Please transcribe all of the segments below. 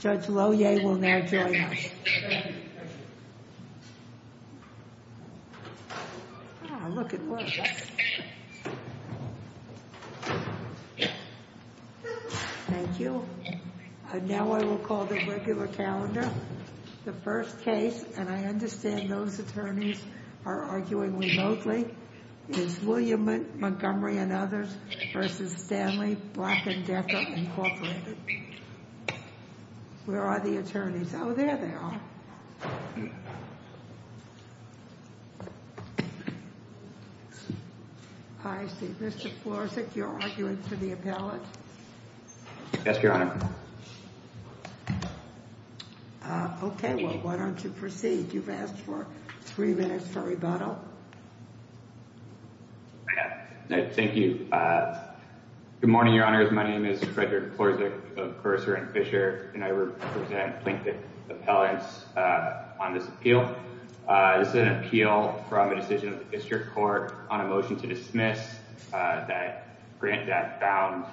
Judge Lohier will now join us. Thank you. Now I will call the regular calendar. The first case, and I understand those attorneys are arguing remotely, is William Montgomery v. Stanley Black & Decker, Inc. Where are the attorneys? Oh, there they are. I see. Mr. Florczyk, you're arguing for the appellate. Yes, Your Honor. Okay. Well, why don't you proceed? You've asked for three minutes for rebuttal. I have. Thank you. Thank you. Good morning, Your Honors. My name is Frederick Florczyk of Cursor & Fisher, and I represent plaintiff appellants on this appeal. This is an appeal from a decision of the district court on a motion to dismiss that grant that found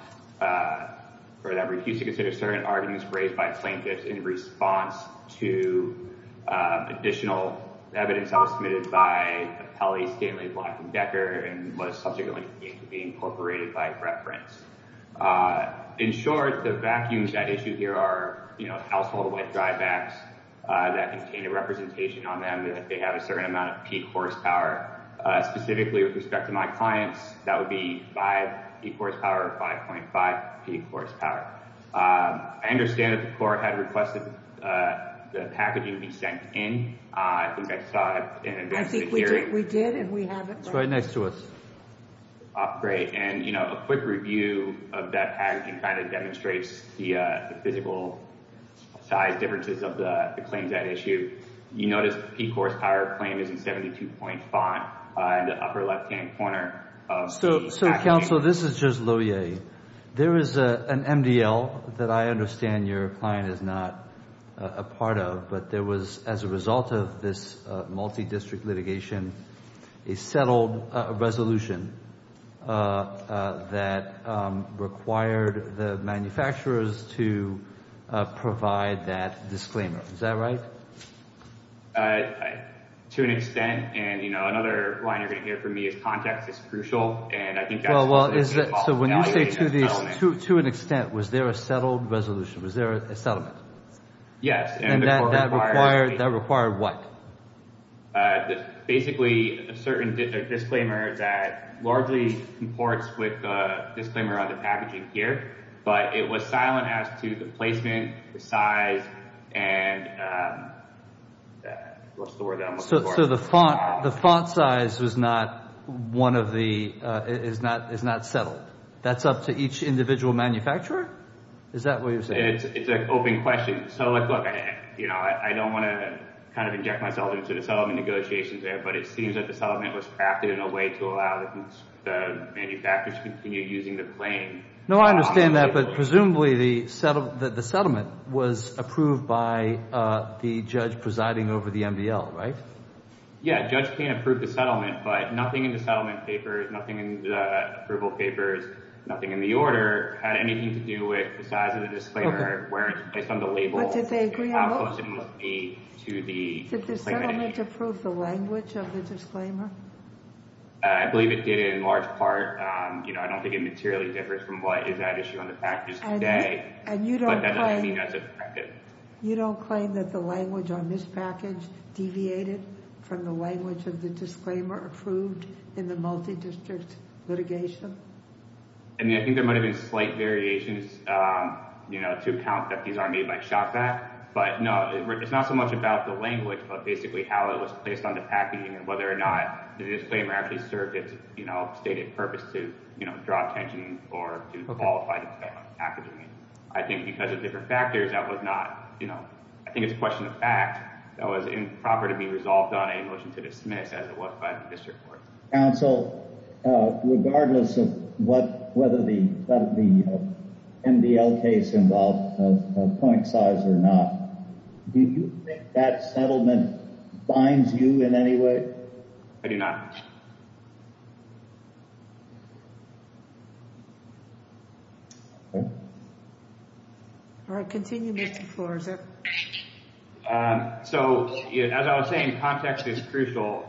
for that refused to consider certain arguments raised by plaintiffs in response to additional evidence that was submitted by appellee Stanley Black & Decker and was subject only to being incorporated by reference. In short, the vacuums at issue here are household wet dry bags that contain a representation on them that they have a certain amount of peak horsepower. Specifically, with respect to my clients, that would be 5 peak horsepower or 5.5 peak horsepower. I understand that the court had requested the packaging be sent in. I think I saw it in the hearing. I think we did, and we have it. It's right next to us. Great. A quick review of that packaging kind of demonstrates the physical size differences of the claims at issue. You notice the peak horsepower claim is in 72-point font in the upper left-hand corner of the packaging. Counsel, this is just Louie. There is an MDL that I understand your client is not a part of, but there was, as a result of this multi-district litigation, a settled resolution that required the manufacturers to provide that disclaimer. Is that right? To an extent. Another line you're going to hear from me is context is crucial. I think that's what's involved in validating that settlement. When you say to an extent, was there a settled resolution? Was there a settlement? Yes. That required what? Basically, a certain disclaimer that largely comports with the disclaimer on the packaging here, but it was silent as to the placement, the size, and... So the font size is not settled. That's up to each individual manufacturer? Is that what you're saying? It's an open question. Look, I don't want to inject myself into the settlement negotiations there, but it seems that the settlement was crafted in a way to allow the manufacturers to continue using the claim. No, I understand that, but presumably the settlement was approved by the judge presiding over the MDL, right? Yes. The judge can't approve the settlement, but nothing in the settlement papers, nothing in the approval papers, nothing in the order had anything to do with the size of the disclaimer based on the label and how close it must be to the... Did the settlement approve the language of the disclaimer? I believe it did in large part. I don't think it materially differs from what is at issue on the packages today, but that doesn't mean that's effective. You don't claim that the language on this package deviated from the language of the disclaimer approved in the multi-district litigation? I think there might have been slight variations to account that these are made by ShopVac, but no, it's not so much about the language, but basically how it was placed on the packaging and whether or not the disclaimer actually served its stated purpose to draw attention or to qualify the settlement packaging. I think because of different factors, that was not... I think it's a question of fact that was improper to be resolved on a motion to dismiss as it was by the district court. Counsel, regardless of whether the MDL case involved a point size or not, do you think that settlement binds you in any way? I do not. All right, continue, Mr. Flores. As I was saying, context is crucial.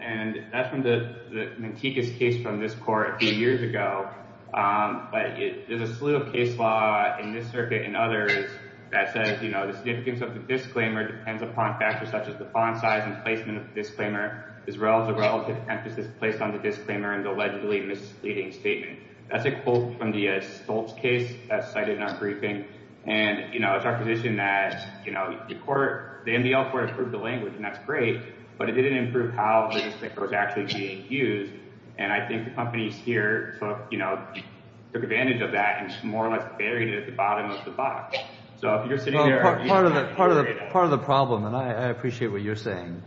That's from the Mantecas case from this court a few years ago. There's a slew of case law in this circuit and others that says the significance of the disclaimer depends upon factors such as the font size and placement of the disclaimer as well as the relative emphasis placed on the disclaimer and the allegedly misleading statement. That's a quote from the Stoltz case that's cited in our briefing. It's our position that the MDL court approved the language and that's great, but it didn't improve how the disclaimer was actually being used. I think the companies here took advantage of that and more or less buried it at the bottom of the box. If you're sitting there... Part of the problem, and I appreciate what you're saying,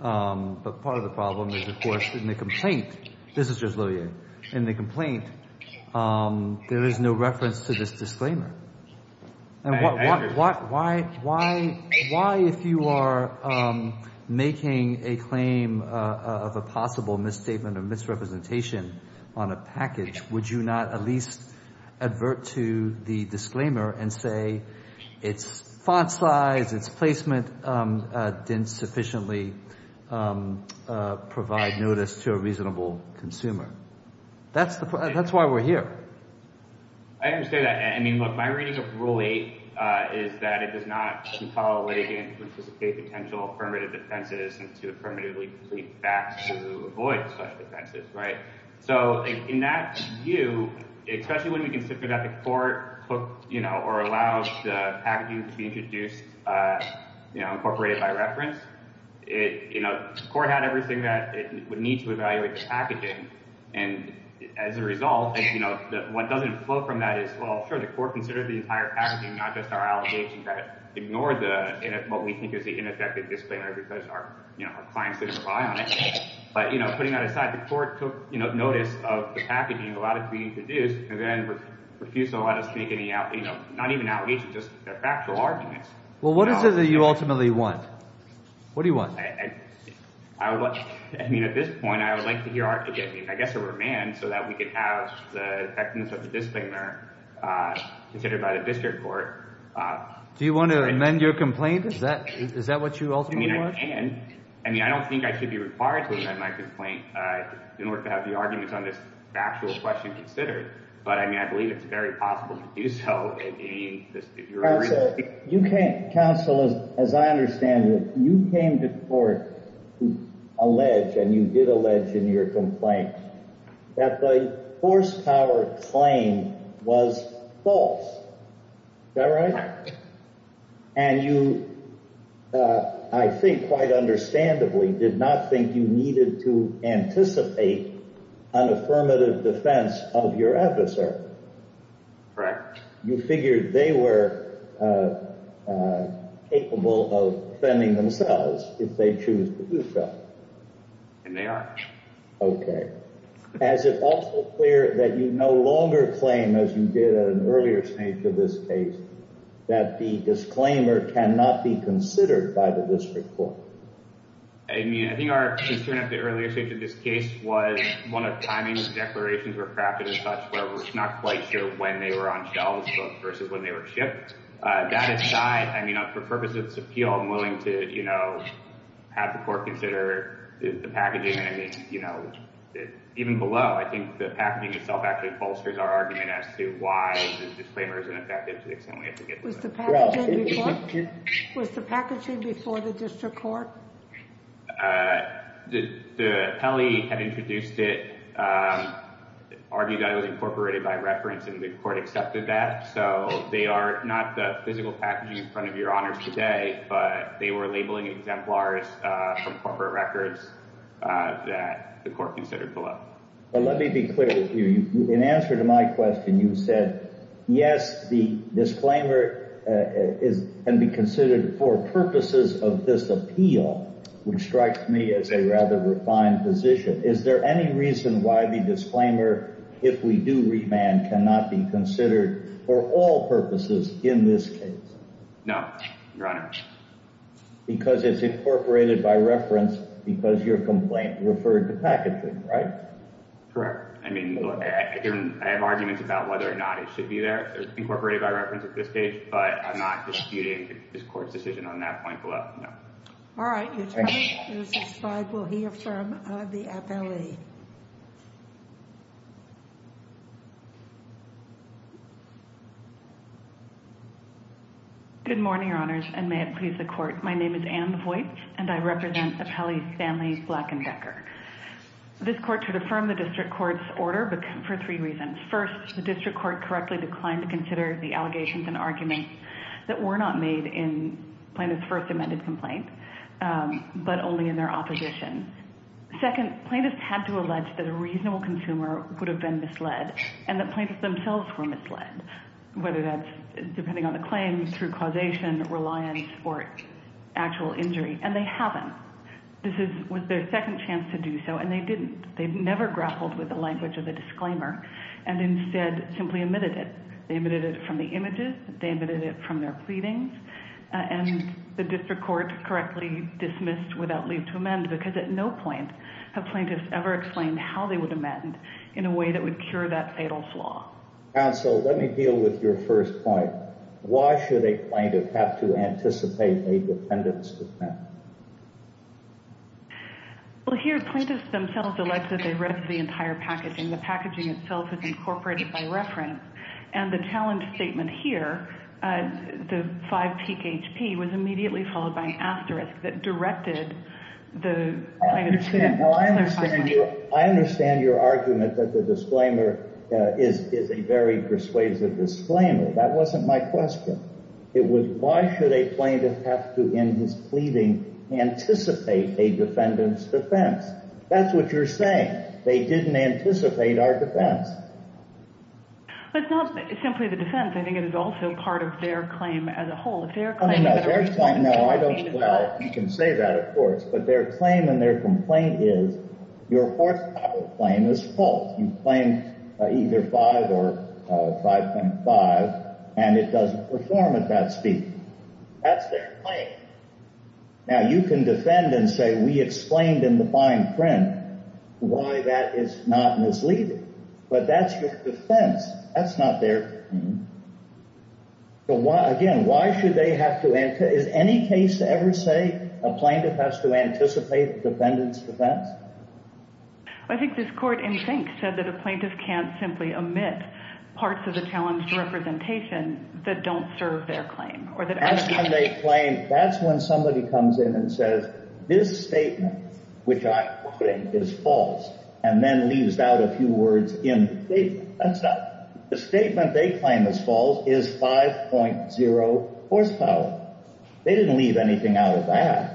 but part of the problem is of course in the complaint, this is just Lilian, in the complaint there is no reference to this disclaimer. I understand. Why if you are making a claim of a possible misstatement or misrepresentation on a package, would you not at least advert to the disclaimer and say its font size, its placement didn't sufficiently provide notice to a reasonable consumer? That's why we're here. I understand that. My reading of rule eight is that it does not compel a litigant to anticipate potential affirmative defenses and to affirmatively plead back to avoid such defenses. In that view, especially when we consider that the court allowed the packaging to be introduced, incorporated by reference, the court had everything that it would need to evaluate the packaging. As a result, what doesn't flow from that is, well, sure, the court considered the entire packaging, not just our allegation that ignored what we think is the ineffective disclaimer because our clients didn't rely on it. Putting that aside, the court took notice of the packaging, allowed it to be introduced, and then refused to let us make any, not even allegations, just factual arguments. What is it that you ultimately want? What do you want? At this point, I would like to hear a remand so that we could have the effectiveness of the disclaimer considered by the district court. Do you want to amend your complaint? Is that what you ultimately want? I don't think I should be required to amend my complaint in order to have the arguments on this factual question considered, but I believe it's very possible to do so. Counsel, as I understand it, you came to court to allege, and you did allege in your complaint, that the horsepower claim was false. Is that right? And you, I think quite understandably, did not think you needed to anticipate an affirmative defense of your adversary. Correct. You figured they were capable of defending themselves if they choose to do so. And they are. Okay. Is it also clear that you no longer claim, as you did at an earlier stage of this case, that the disclaimer cannot be considered by the district court? I mean, I think our concern at the earlier stage of this case was one of timing declarations were crafted as such, where we're not quite sure when they were on shelves versus when they were shipped. That aside, I mean, for the purpose of this appeal, I'm willing to, you know, have the court consider the packaging, and I mean, you know, even below, I think the packaging itself actually bolsters our argument as to why the disclaimer is ineffective to the extent we have to get to it. Was the packaging before the district court? The appellee had introduced it, argued that it was incorporated by reference, and the court accepted that. So they are not the physical packaging in front of your honors today, but they were labeling exemplars from corporate records that the court considered below. But let me be clear with you. In answer to my question, you said, yes, the disclaimer can be considered for all, which strikes me as a rather refined position. Is there any reason why the disclaimer, if we do remand, cannot be considered for all purposes in this case? No, Your Honor. Because it's incorporated by reference because your complaint referred to packaging, right? Correct. I mean, I have arguments about whether or not it should be there. It's incorporated by reference at this stage, but I'm not disputing this court's decision on that point below, no. All right. There's a slide we'll hear from the appellee. Good morning, Your Honors, and may it please the court. My name is Ann Voigt, and I represent Appellees Stanley, Black, and Decker. This court should affirm the district court's order for three reasons. First, the district court correctly declined to consider the allegations and complaint, but only in their opposition. Second, plaintiffs had to allege that a reasonable consumer would have been misled, and the plaintiffs themselves were misled, whether that's depending on the claim, through causation, reliance, or actual injury, and they haven't. This was their second chance to do so, and they didn't. They've never grappled with the language of the disclaimer, and instead simply omitted it. They omitted it from the images. They omitted it from their pleadings. And the district court correctly dismissed without leave to amend, because at no point have plaintiffs ever explained how they would amend in a way that would cure that fatal flaw. Counsel, let me deal with your first point. Why should a plaintiff have to anticipate a defendant's defense? Well, here, plaintiffs themselves allege that they read the entire packaging. The packaging itself is incorporated by reference, and the challenge statement here, the five-peak HP, was immediately followed by an asterisk that directed the plaintiff to that. I understand your argument that the disclaimer is a very persuasive disclaimer. That wasn't my question. It was, why should a plaintiff have to, in his pleading, anticipate a defendant's defense? That's what you're saying. They didn't anticipate our defense. But it's not simply the defense. I think it is also part of their claim as a whole. Their claim is that our complaint is false. Well, you can say that, of course. But their claim and their complaint is, your forthcoming claim is false. You claim either 5 or 5.5, and it doesn't perform at that speed. That's their claim. Now, you can defend and say, we explained in the fine print why that is not misleading. But that's your defense. That's not their claim. Again, why should they have to anticipate? Is any case to ever say a plaintiff has to anticipate a defendant's defense? I think this court, in think, said that a plaintiff can't simply omit parts of the challenged representation that don't serve their claim. That's when they claim, that's when somebody comes in and says, this The statement they claim is false is 5.0 horsepower. They didn't leave anything out of that.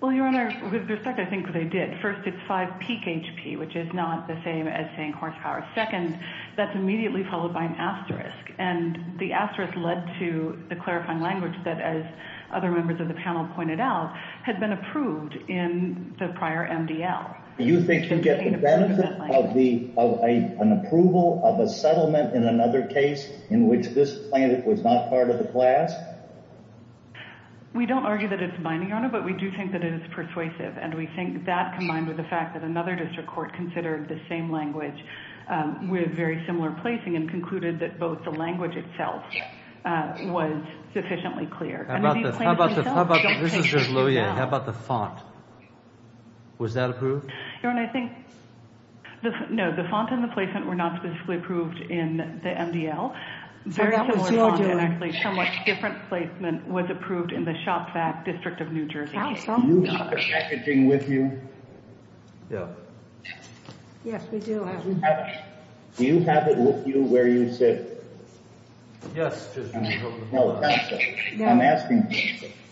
Well, Your Honor, with respect, I think they did. First, it's 5 peak HP, which is not the same as saying horsepower. Second, that's immediately followed by an asterisk. And the asterisk led to the clarifying language that, as other members of the panel pointed out, had been approved in the prior MDL. Do you think you get the benefit of an approval of a settlement in another case in which this plaintiff was not part of the class? We don't argue that it's binding, Your Honor, but we do think that it is persuasive, and we think that combined with the fact that another district court considered the same language with very similar placing and concluded that both the language itself was sufficiently clear. How about this? How about... this is just Luya. How about the font? Was that approved? Your Honor, I think... no, the font and the placement were not specifically approved in the MDL. Very similar font and actually somewhat different placement was approved in the Shop Vac District of New Jersey. Do you have the packaging with you? No. Yes, we do have it. Do you have it with you where you sit? Yes. I'm asking...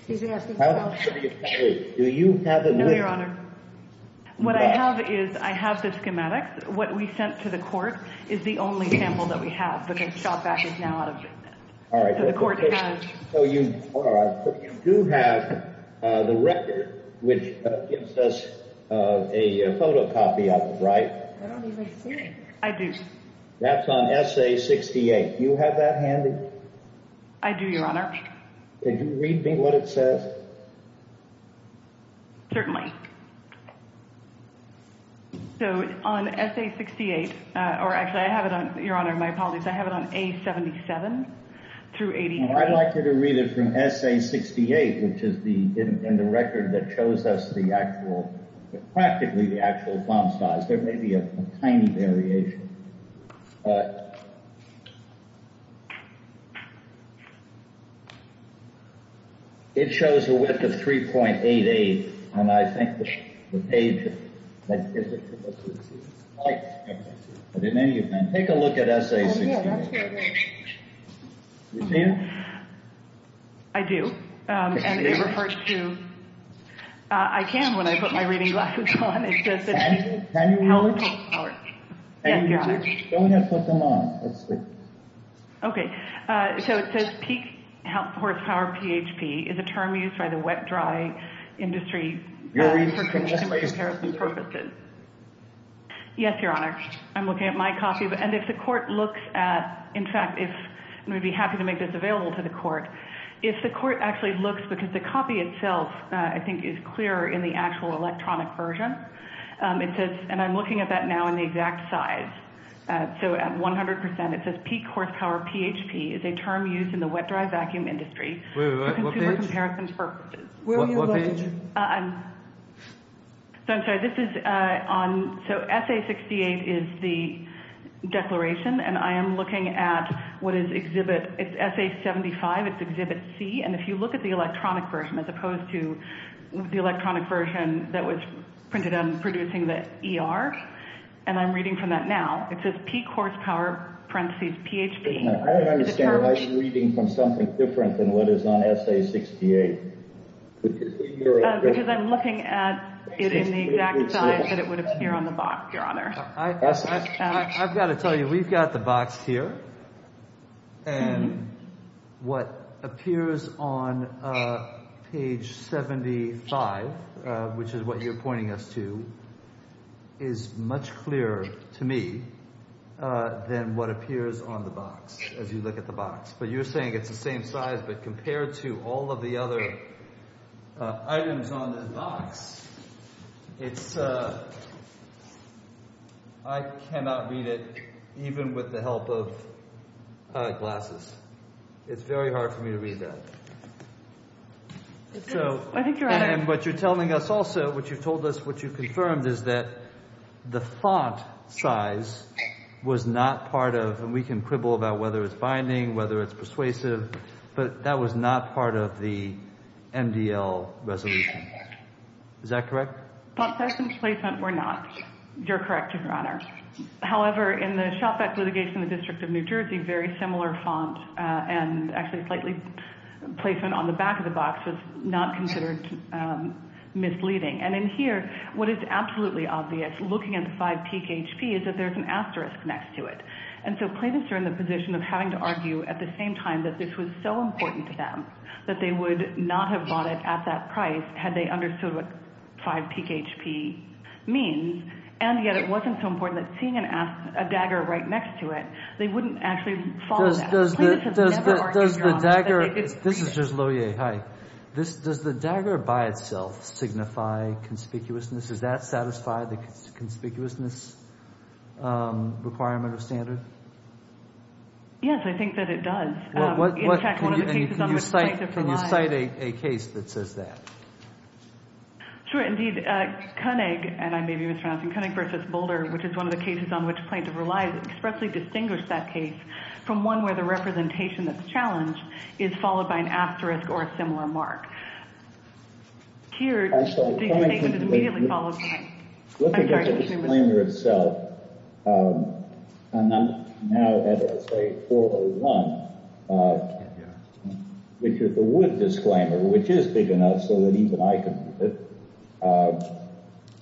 Do you have it with you? No, Your Honor. What I have is I have the schematics. What we sent to the court is the only sample that we have because Shop Vac is now out of business. All right. So the court has... So you do have the record which gives us a photocopy of it, right? I don't even see it. I do. That's on SA-68. Do you have that handy? I do, Your Honor. Thank you very much. Can you read me what it says? Certainly. So on SA-68, or actually I have it on... Your Honor, my apologies. I have it on A-77 through... I'd like you to read it from SA-68, which is the record that shows us the actual... practically the actual font size. There may be a tiny variation. All right. It shows a width of 3.88, and I think the page... Take a look at SA-68. Do you see it? I do, and it refers to... I can when I put my reading glasses on. Can you read it? Yes, Your Honor. Don't have to put them on. That's good. Okay. So it says peak horsepower PHP is a term used by the wet-dry industry... Can you read from SA-68? Yes, Your Honor. I'm looking at my copy, and if the court looks at... In fact, if... I'm going to be happy to make this available to the court. If the court actually looks, because the copy itself, I think, is clearer in the actual electronic version. And I'm looking at that now in the exact size. So at 100%, it says peak horsepower PHP is a term used in the wet-dry vacuum industry... Wait, wait, wait. What page?... for consumer comparison purposes. What page? I'm sorry. This is on... So SA-68 is the declaration, and I am looking at what is exhibit... It's SA-75. It's exhibit C, and if you look at the electronic version, as opposed to the electronic version that was printed on producing the ER. And I'm reading from that now. It says peak horsepower, parentheses, PHP. I don't understand. Why are you reading from something different than what is on SA-68? Because I'm looking at it in the exact size that it would appear on the box, Your Honor. I've got to tell you, we've got the box here. And what appears on page 75, which is what you're pointing us to, is much clearer to me than what appears on the box, as you look at the box. But you're saying it's the same size, but compared to all of the other items on the box, it's... I cannot read it, even with the help of glasses. It's very hard for me to read that. So... I think you're on it. And what you're telling us also, what you've told us, what you've confirmed, is that the font size was not part of... And we can quibble about whether it's binding, whether it's persuasive, but that was not part of the MDL resolution. Is that correct? Font size and placement were not. You're correct, Your Honor. However, in the shop vac litigation in the District of New Jersey, very similar font and actually slightly placement on the back of the box was not considered misleading. And in here, what is absolutely obvious, looking at the five-peak HP, is that there's an asterisk next to it. And so claimants are in the position of having to argue at the same time that this was so important to them that they would not have bought it at that price had they understood what five-peak HP means. And yet it wasn't so important that seeing a dagger right next to it, they wouldn't actually follow that. Does the dagger... This is just Loewe. Hi. Does the dagger by itself signify conspicuousness? Does that satisfy the conspicuousness requirement or standard? Yes, I think that it does. Can you cite a case that says that? Sure, indeed. Koenig, and I may be mispronouncing, Koenig v. Boulder, which is one of the cases on which plaintiff relies, expressly distinguished that case from one where the representation that's challenged is followed by an asterisk or a similar mark. Keir, do you think that it immediately follows... Looking at the disclaimer itself, and I'm now at, let's say, 4.01, which is the wood disclaimer, which is big enough so that even I can read it.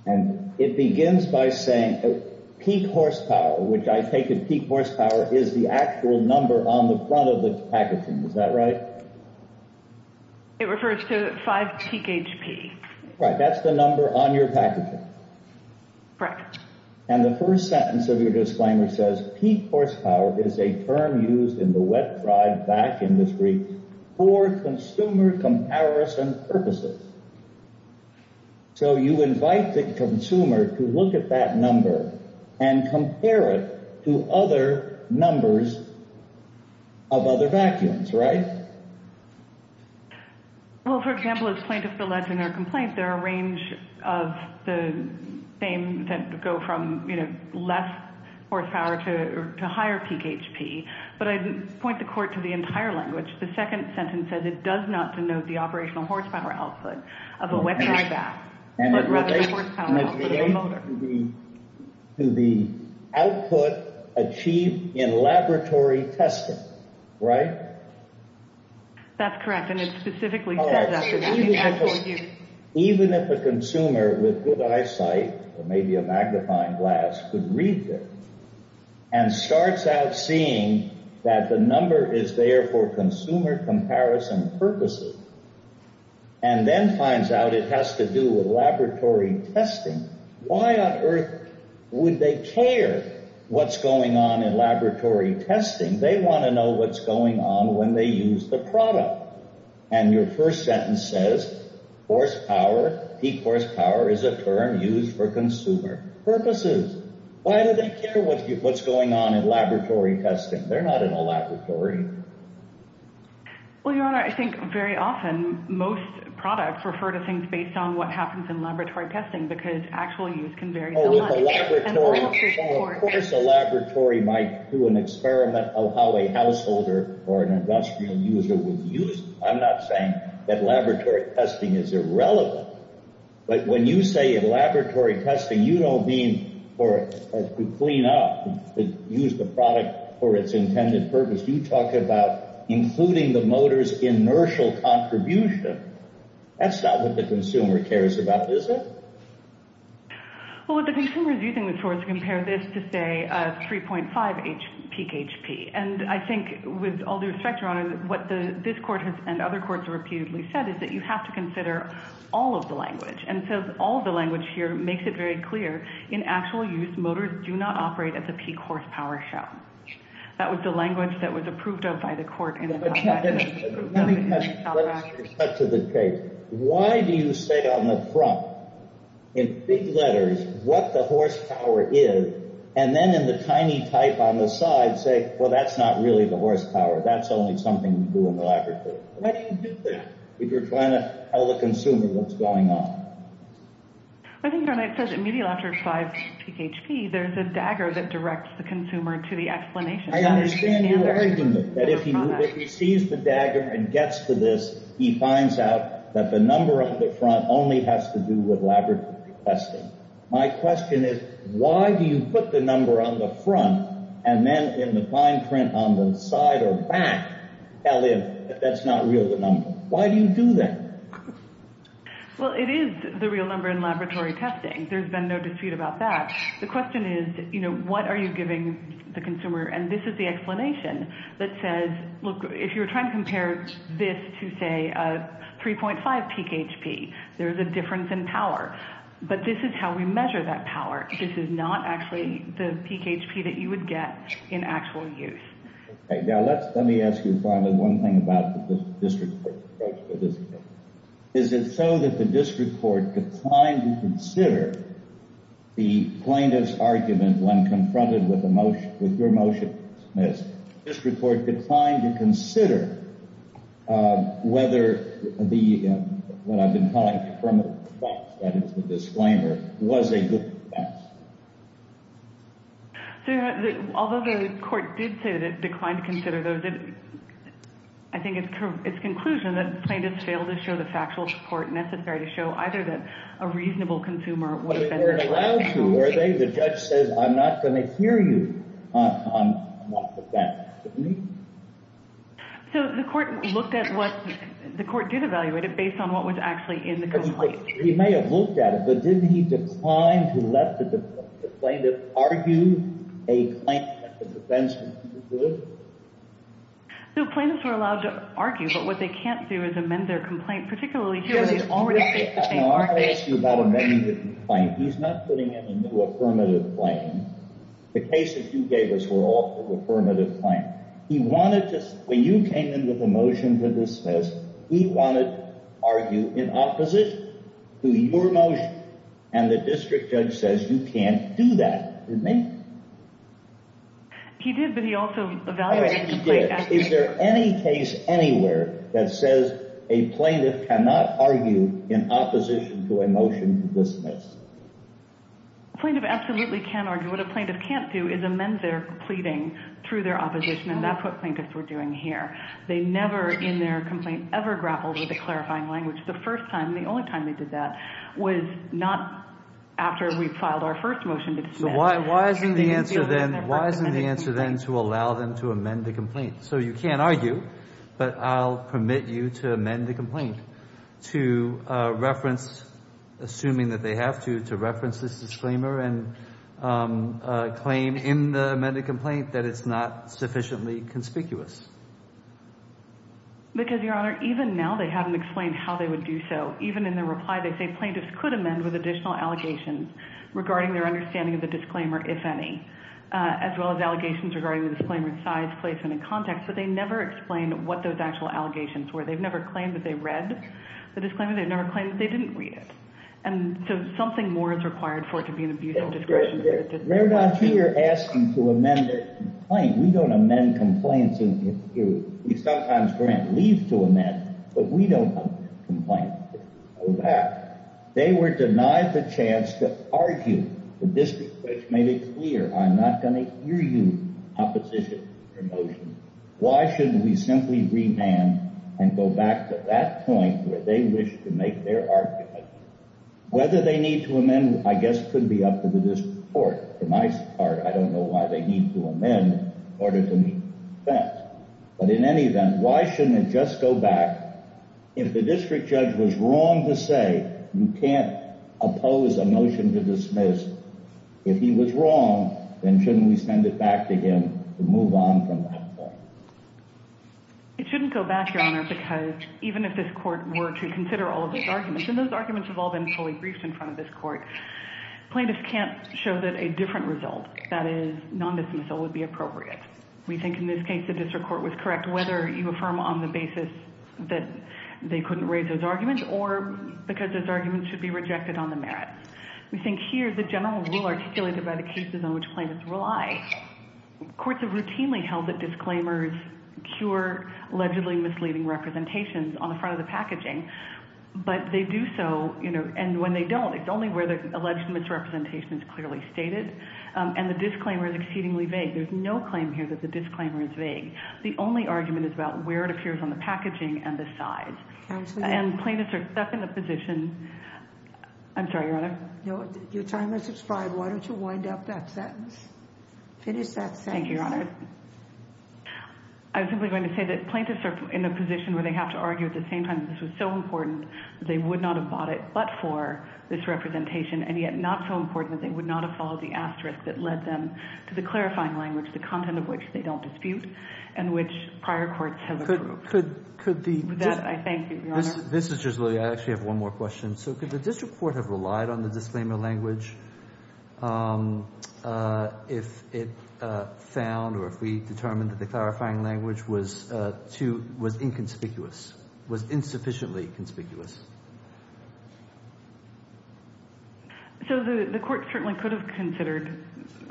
And it begins by saying peak horsepower, which I take as peak horsepower is the actual number on the front of the packaging. Is that right? It refers to 5 pHP. Right, that's the number on your packaging. Right. And the first sentence of your disclaimer says, peak horsepower is a term used in the wet-dry vac industry for consumer comparison purposes. So you invite the consumer to look at that number and compare it to other numbers of other vacuums, right? Well, for example, as plaintiff alleged in her complaint, there are a range of the names that go from less horsepower to higher peak HP, but I'd point the court to the entire language. The second sentence says it does not denote the operational horsepower output of a wet-dry vac, but rather the horsepower output of a motor. So it's not to the output achieved in laboratory testing, right? That's correct, and it specifically says that. All right. Even if a consumer with good eyesight or maybe a magnifying glass could read this and starts out seeing that the number is there for consumer comparison purposes and then finds out it has to do with laboratory testing, why on earth would they care what's going on in laboratory testing? They want to know what's going on when they use the product. And your first sentence says, horsepower, peak horsepower is a term used for consumer purposes. Why do they care what's going on in laboratory testing? They're not in a laboratory. Well, Your Honor, I think very often most products refer to things based on what happens in laboratory testing because actual use can vary so much. Of course a laboratory might do an experiment of how a householder or an industrial user would use it. I'm not saying that laboratory testing is irrelevant, but when you say laboratory testing, you don't mean to clean up and use the product for its intended purpose. You talk about including the motor's inertial contribution. That's not what the consumer cares about, is it? Well, what the consumer is using, of course, to compare this to, say, 3.5 peak HP. And I think with all due respect, Your Honor, what this court and other courts have reputedly said is that you have to consider all of the language. And so all of the language here makes it very clear. In actual use, motors do not operate at the peak horsepower shown. That was the language that was approved of by the court. Let me cut to the chase. Why do you say on the front, in big letters, what the horsepower is, and then in the tiny type on the side say, well, that's not really the horsepower. That's only something you do in the laboratory. Why do you do that if you're trying to tell the consumer what's going on? I think, Your Honor, it says at medial after 5 peak HP, there's a dagger that directs the consumer to the explanation. I understand your argument that if he sees the dagger and gets to this, he finds out that the number on the front only has to do with laboratory testing. My question is, why do you put the number on the front and then in the fine print on the side or back tell him that's not really the number? Why do you do that? Well, it is the real number in laboratory testing. There's been no dispute about that. The question is, you know, what are you giving the consumer? And this is the explanation that says, look, if you're trying to compare this to, say, a 3.5 peak HP, there's a difference in power. But this is how we measure that power. This is not actually the peak HP that you would get in actual use. Okay. Now let me ask you finally one thing about the district court's approach to this case. Is it so that the district court declined to consider the plaintiff's argument when confronted with your motion dismissed, the district court declined to consider whether the, what I've been calling from the facts, that is the disclaimer, was a good defense? Although the court did say that it declined to consider those, I think it's conclusion that the plaintiff failed to show the factual support necessary to show either that a reasonable consumer would have said that. But they weren't allowed to, were they? The judge says, I'm not going to hear you on what defense. Didn't he? So the court looked at what, the court did evaluate it based on what was actually in the complaint. He may have looked at it, but didn't he decline to let the plaintiff argue a claim that the defense was too good? The plaintiffs were allowed to argue, but what they can't do is amend their complaint, particularly here where he's already faced the same argument. Let me ask you about amending the complaint. He's not putting in a new affirmative claim. The cases you gave us were all affirmative claims. He wanted to, when you came in with a motion to dismiss, he wanted to argue in opposition to your motion, and the district judge says you can't do that. Didn't he? He did, but he also evaluated the complaint. He did. Is there any case anywhere that says a plaintiff cannot argue in opposition to a motion to dismiss? A plaintiff absolutely can argue. What a plaintiff can't do is amend their pleading through their opposition, and that's what plaintiffs were doing here. They never in their complaint ever grappled with the clarifying language. The first time, the only time they did that was not after we filed our first motion to dismiss. So why isn't the answer then to allow them to amend the complaint? So you can't argue, but I'll permit you to amend the complaint to reference, assuming that they have to, to reference this disclaimer and claim in the amended complaint that it's not sufficiently conspicuous. Because, Your Honor, even now they haven't explained how they would do so. Even in their reply they say plaintiffs could amend with additional allegations regarding their understanding of the disclaimer, if any, as well as allegations regarding the disclaimer's size, placement, and context, but they never explain what those actual allegations were. They've never claimed that they read the disclaimer. They've never claimed that they didn't read it. And so something more is required for it to be an abusive disclaimer. They're not here asking to amend their complaint. We don't amend complaints in this period. We sometimes grant leave to amend, but we don't amend complaints. Go back. They were denied the chance to argue. The district judge made it clear, I'm not going to hear you in opposition to your motion. Why shouldn't we simply remand and go back to that point where they wish to make their argument? Whether they need to amend, I guess, could be up to the district court. For my part, I don't know why they need to amend in order to meet the defense. But in any event, why shouldn't it just go back? If the district judge was wrong to say, you can't oppose a motion to dismiss, if he was wrong, then shouldn't we send it back to him to move on from that point? It shouldn't go back, Your Honor, because even if this court were to consider all of these arguments, and those arguments have all been fully briefed in front of this court, plaintiffs can't show that a different result, that is, non-dismissal, would be appropriate. We think in this case the district court was correct, whether you affirm on the basis that they couldn't raise those arguments or because those arguments should be rejected on the merits. We think here the general rule articulated by the cases on which plaintiffs rely, courts have routinely held that disclaimers cure allegedly misleading representations on the front of the packaging, but they do so, and when they don't, it's only where the alleged misrepresentation is clearly stated, and the disclaimer is exceedingly vague. There's no claim here that the disclaimer is vague. The only argument is about where it appears on the packaging and the sides. And plaintiffs are stuck in the position, I'm sorry, Your Honor. Your time has expired. Why don't you wind up that sentence? Finish that sentence. Thank you, Your Honor. I was simply going to say that plaintiffs are in a position where they have to argue at the same time that this was so important that they would not have bought it but for this representation, and yet not so important that they would not have followed the asterisk that led them to the clarifying language, the content of which they don't dispute, and which prior courts have approved. That, I thank you, Your Honor. This is just really, I actually have one more question. So could the district court have relied on the disclaimer language if it found or if we determined that the clarifying language was inconspicuous, was insufficiently conspicuous? So the court certainly could have considered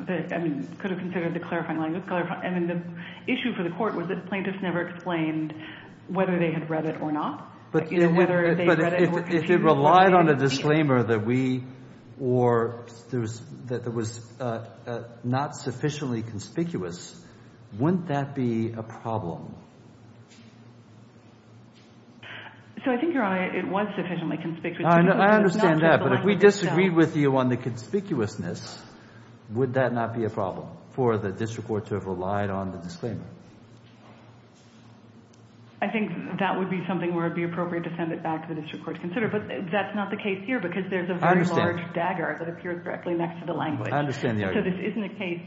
the clarifying language. I mean, the issue for the court was that plaintiffs never explained whether they had read it or not. But if it relied on a disclaimer that we or that it was not sufficiently conspicuous, wouldn't that be a problem? So I think, Your Honor, it was sufficiently conspicuous. I understand that, but if we disagreed with you on the conspicuousness, would that not be a problem for the district court to have relied on the disclaimer? I think that would be something where it would be appropriate to send it back to the district court to consider. But that's not the case here because there's a very large dagger that appears directly next to the language. I understand the argument. So this isn't a case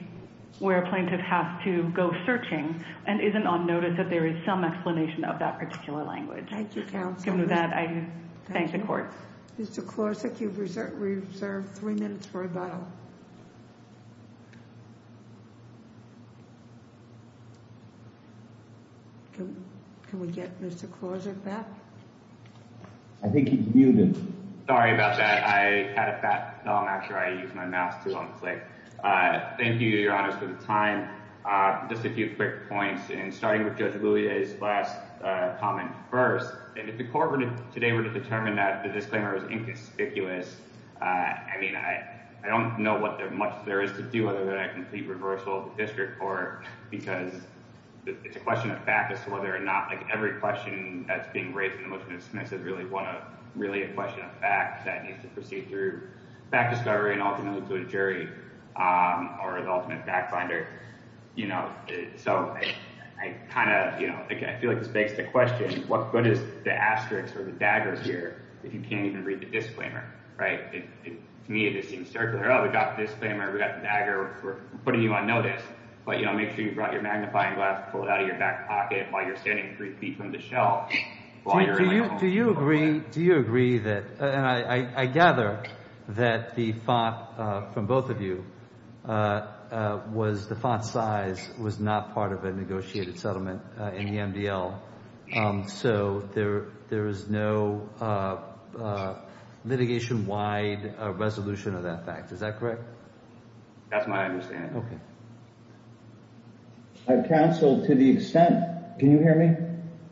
where a plaintiff has to go searching and isn't on notice that there is some explanation of that particular language. Thank you, counsel. Given that, I thank the court. Mr. Klosik, you've reserved three minutes for rebuttal. Can we get Mr. Klosik back? I think he's muted. Sorry about that. I had it back. I'm not sure I used my mouse to unclick. Thank you, Your Honor, for the time. Just a few quick points. And starting with Judge Louis' last comment first, if the court today were to determine that the disclaimer was inconspicuous, I mean, I don't know what much there is to do other than a complete reversal of the district court because it's a question of fact as to whether or not every question that's being raised in the judgment of Smith is really a question of fact that needs to proceed through fact discovery and ultimately to a jury or the ultimate fact finder. So I kind of feel like this begs the question, what good is the asterisk or the dagger here if you can't even read the disclaimer, right? To me, it just seems circular. Oh, we got the disclaimer, we got the dagger, we're putting you on notice. But, you know, make sure you brought your magnifying glass and pulled it out of your back pocket while you're standing three feet from the shelf. Do you agree that, and I gather that the font from both of you was the font size was not part of a negotiated settlement in the MDL, so there is no litigation-wide resolution of that fact, is that correct? That's my understanding. Okay. Counsel, to the extent, can you hear me?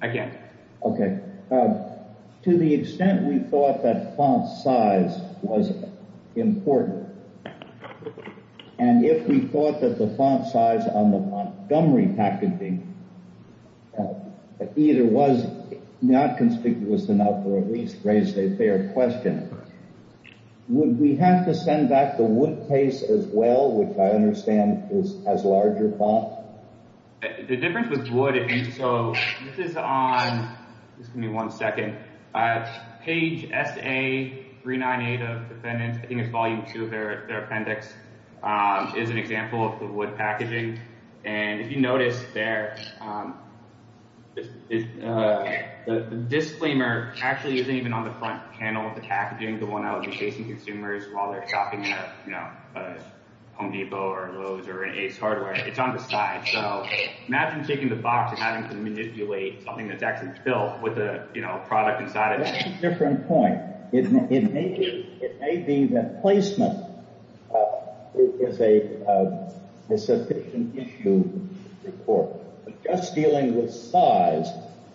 I can. Okay. To the extent we thought that font size was important, and if we thought that the font size on the Montgomery packaging either was not conspicuous enough or at least raised a fair question, would we have to send back the Wood case as well, which I understand has larger font? The difference with Wood, and so this is on, give me one second, page SA398 of Defendants, I think it's volume two of their appendix, is an example of the Wood packaging, and if you notice there, the disclaimer actually isn't even on the front panel of the packaging, the one I would be facing consumers while they're shopping at Home Depot or Lowe's or an Ace Hardware, it's on the side. So imagine taking the box and having to manipulate something that's actually built with a product inside of it. That's a different point. It may be that placement is a sufficient issue for just dealing with size.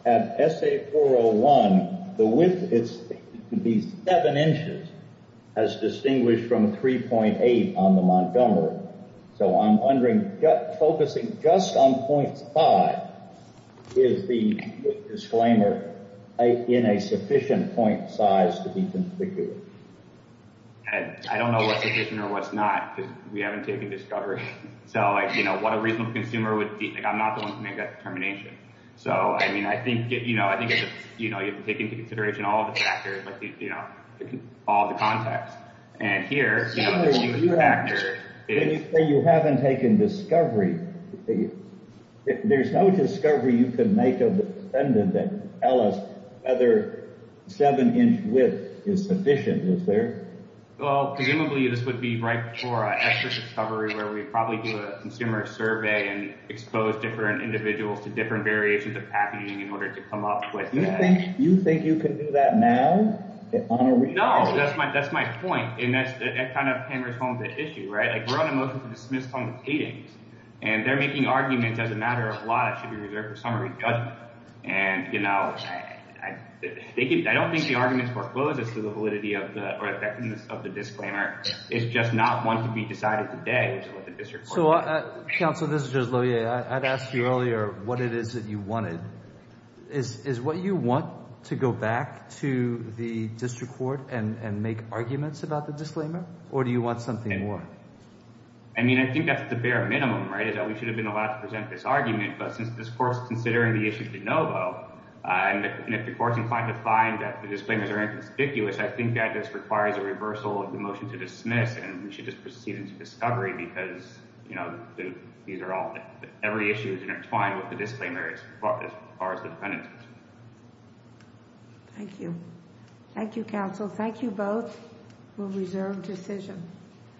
At SA401, the width is to be seven inches, as distinguished from 3.8 on the Montgomery. So I'm wondering, focusing just on .5, is the disclaimer in a sufficient point size to be configured? I don't know what's sufficient or what's not, because we haven't taken discovery. So what a reasonable consumer would, I'm not the one to make that determination. So I think you have to take into consideration all the factors, all the context. So you say you haven't taken discovery. There's no discovery you can make of the defendant that tells us whether seven-inch width is sufficient, is there? Well, presumably this would be right for an extra discovery where we'd probably do a consumer survey and expose different individuals to different variations of packaging in order to come up with that. You think you can do that now? No, that's my point, and that kind of hammers home the issue, right? We're on a motion to dismiss tongue of cadence, and they're making arguments as a matter of law that should be reserved for summary judgment. And I don't think the argument forecloses to the validity or effectiveness of the disclaimer. It's just not one to be decided today. So, Counsel, this is just Loehr. I'd asked you earlier what it is that you wanted. Is what you want to go back to the district court and make arguments about the disclaimer, or do you want something more? I mean, I think that's the bare minimum, right, is that we should have been allowed to present this argument. But since this Court's considering the issue de novo, and if the Court's inclined to find that the disclaimers are inconspicuous, I think that just requires a reversal of the motion to dismiss, and we should just proceed into discovery because, you know, every issue is intertwined with the disclaimers as far as the defendant is concerned. Thank you. Thank you, Counsel. Thank you both. We'll reserve decision.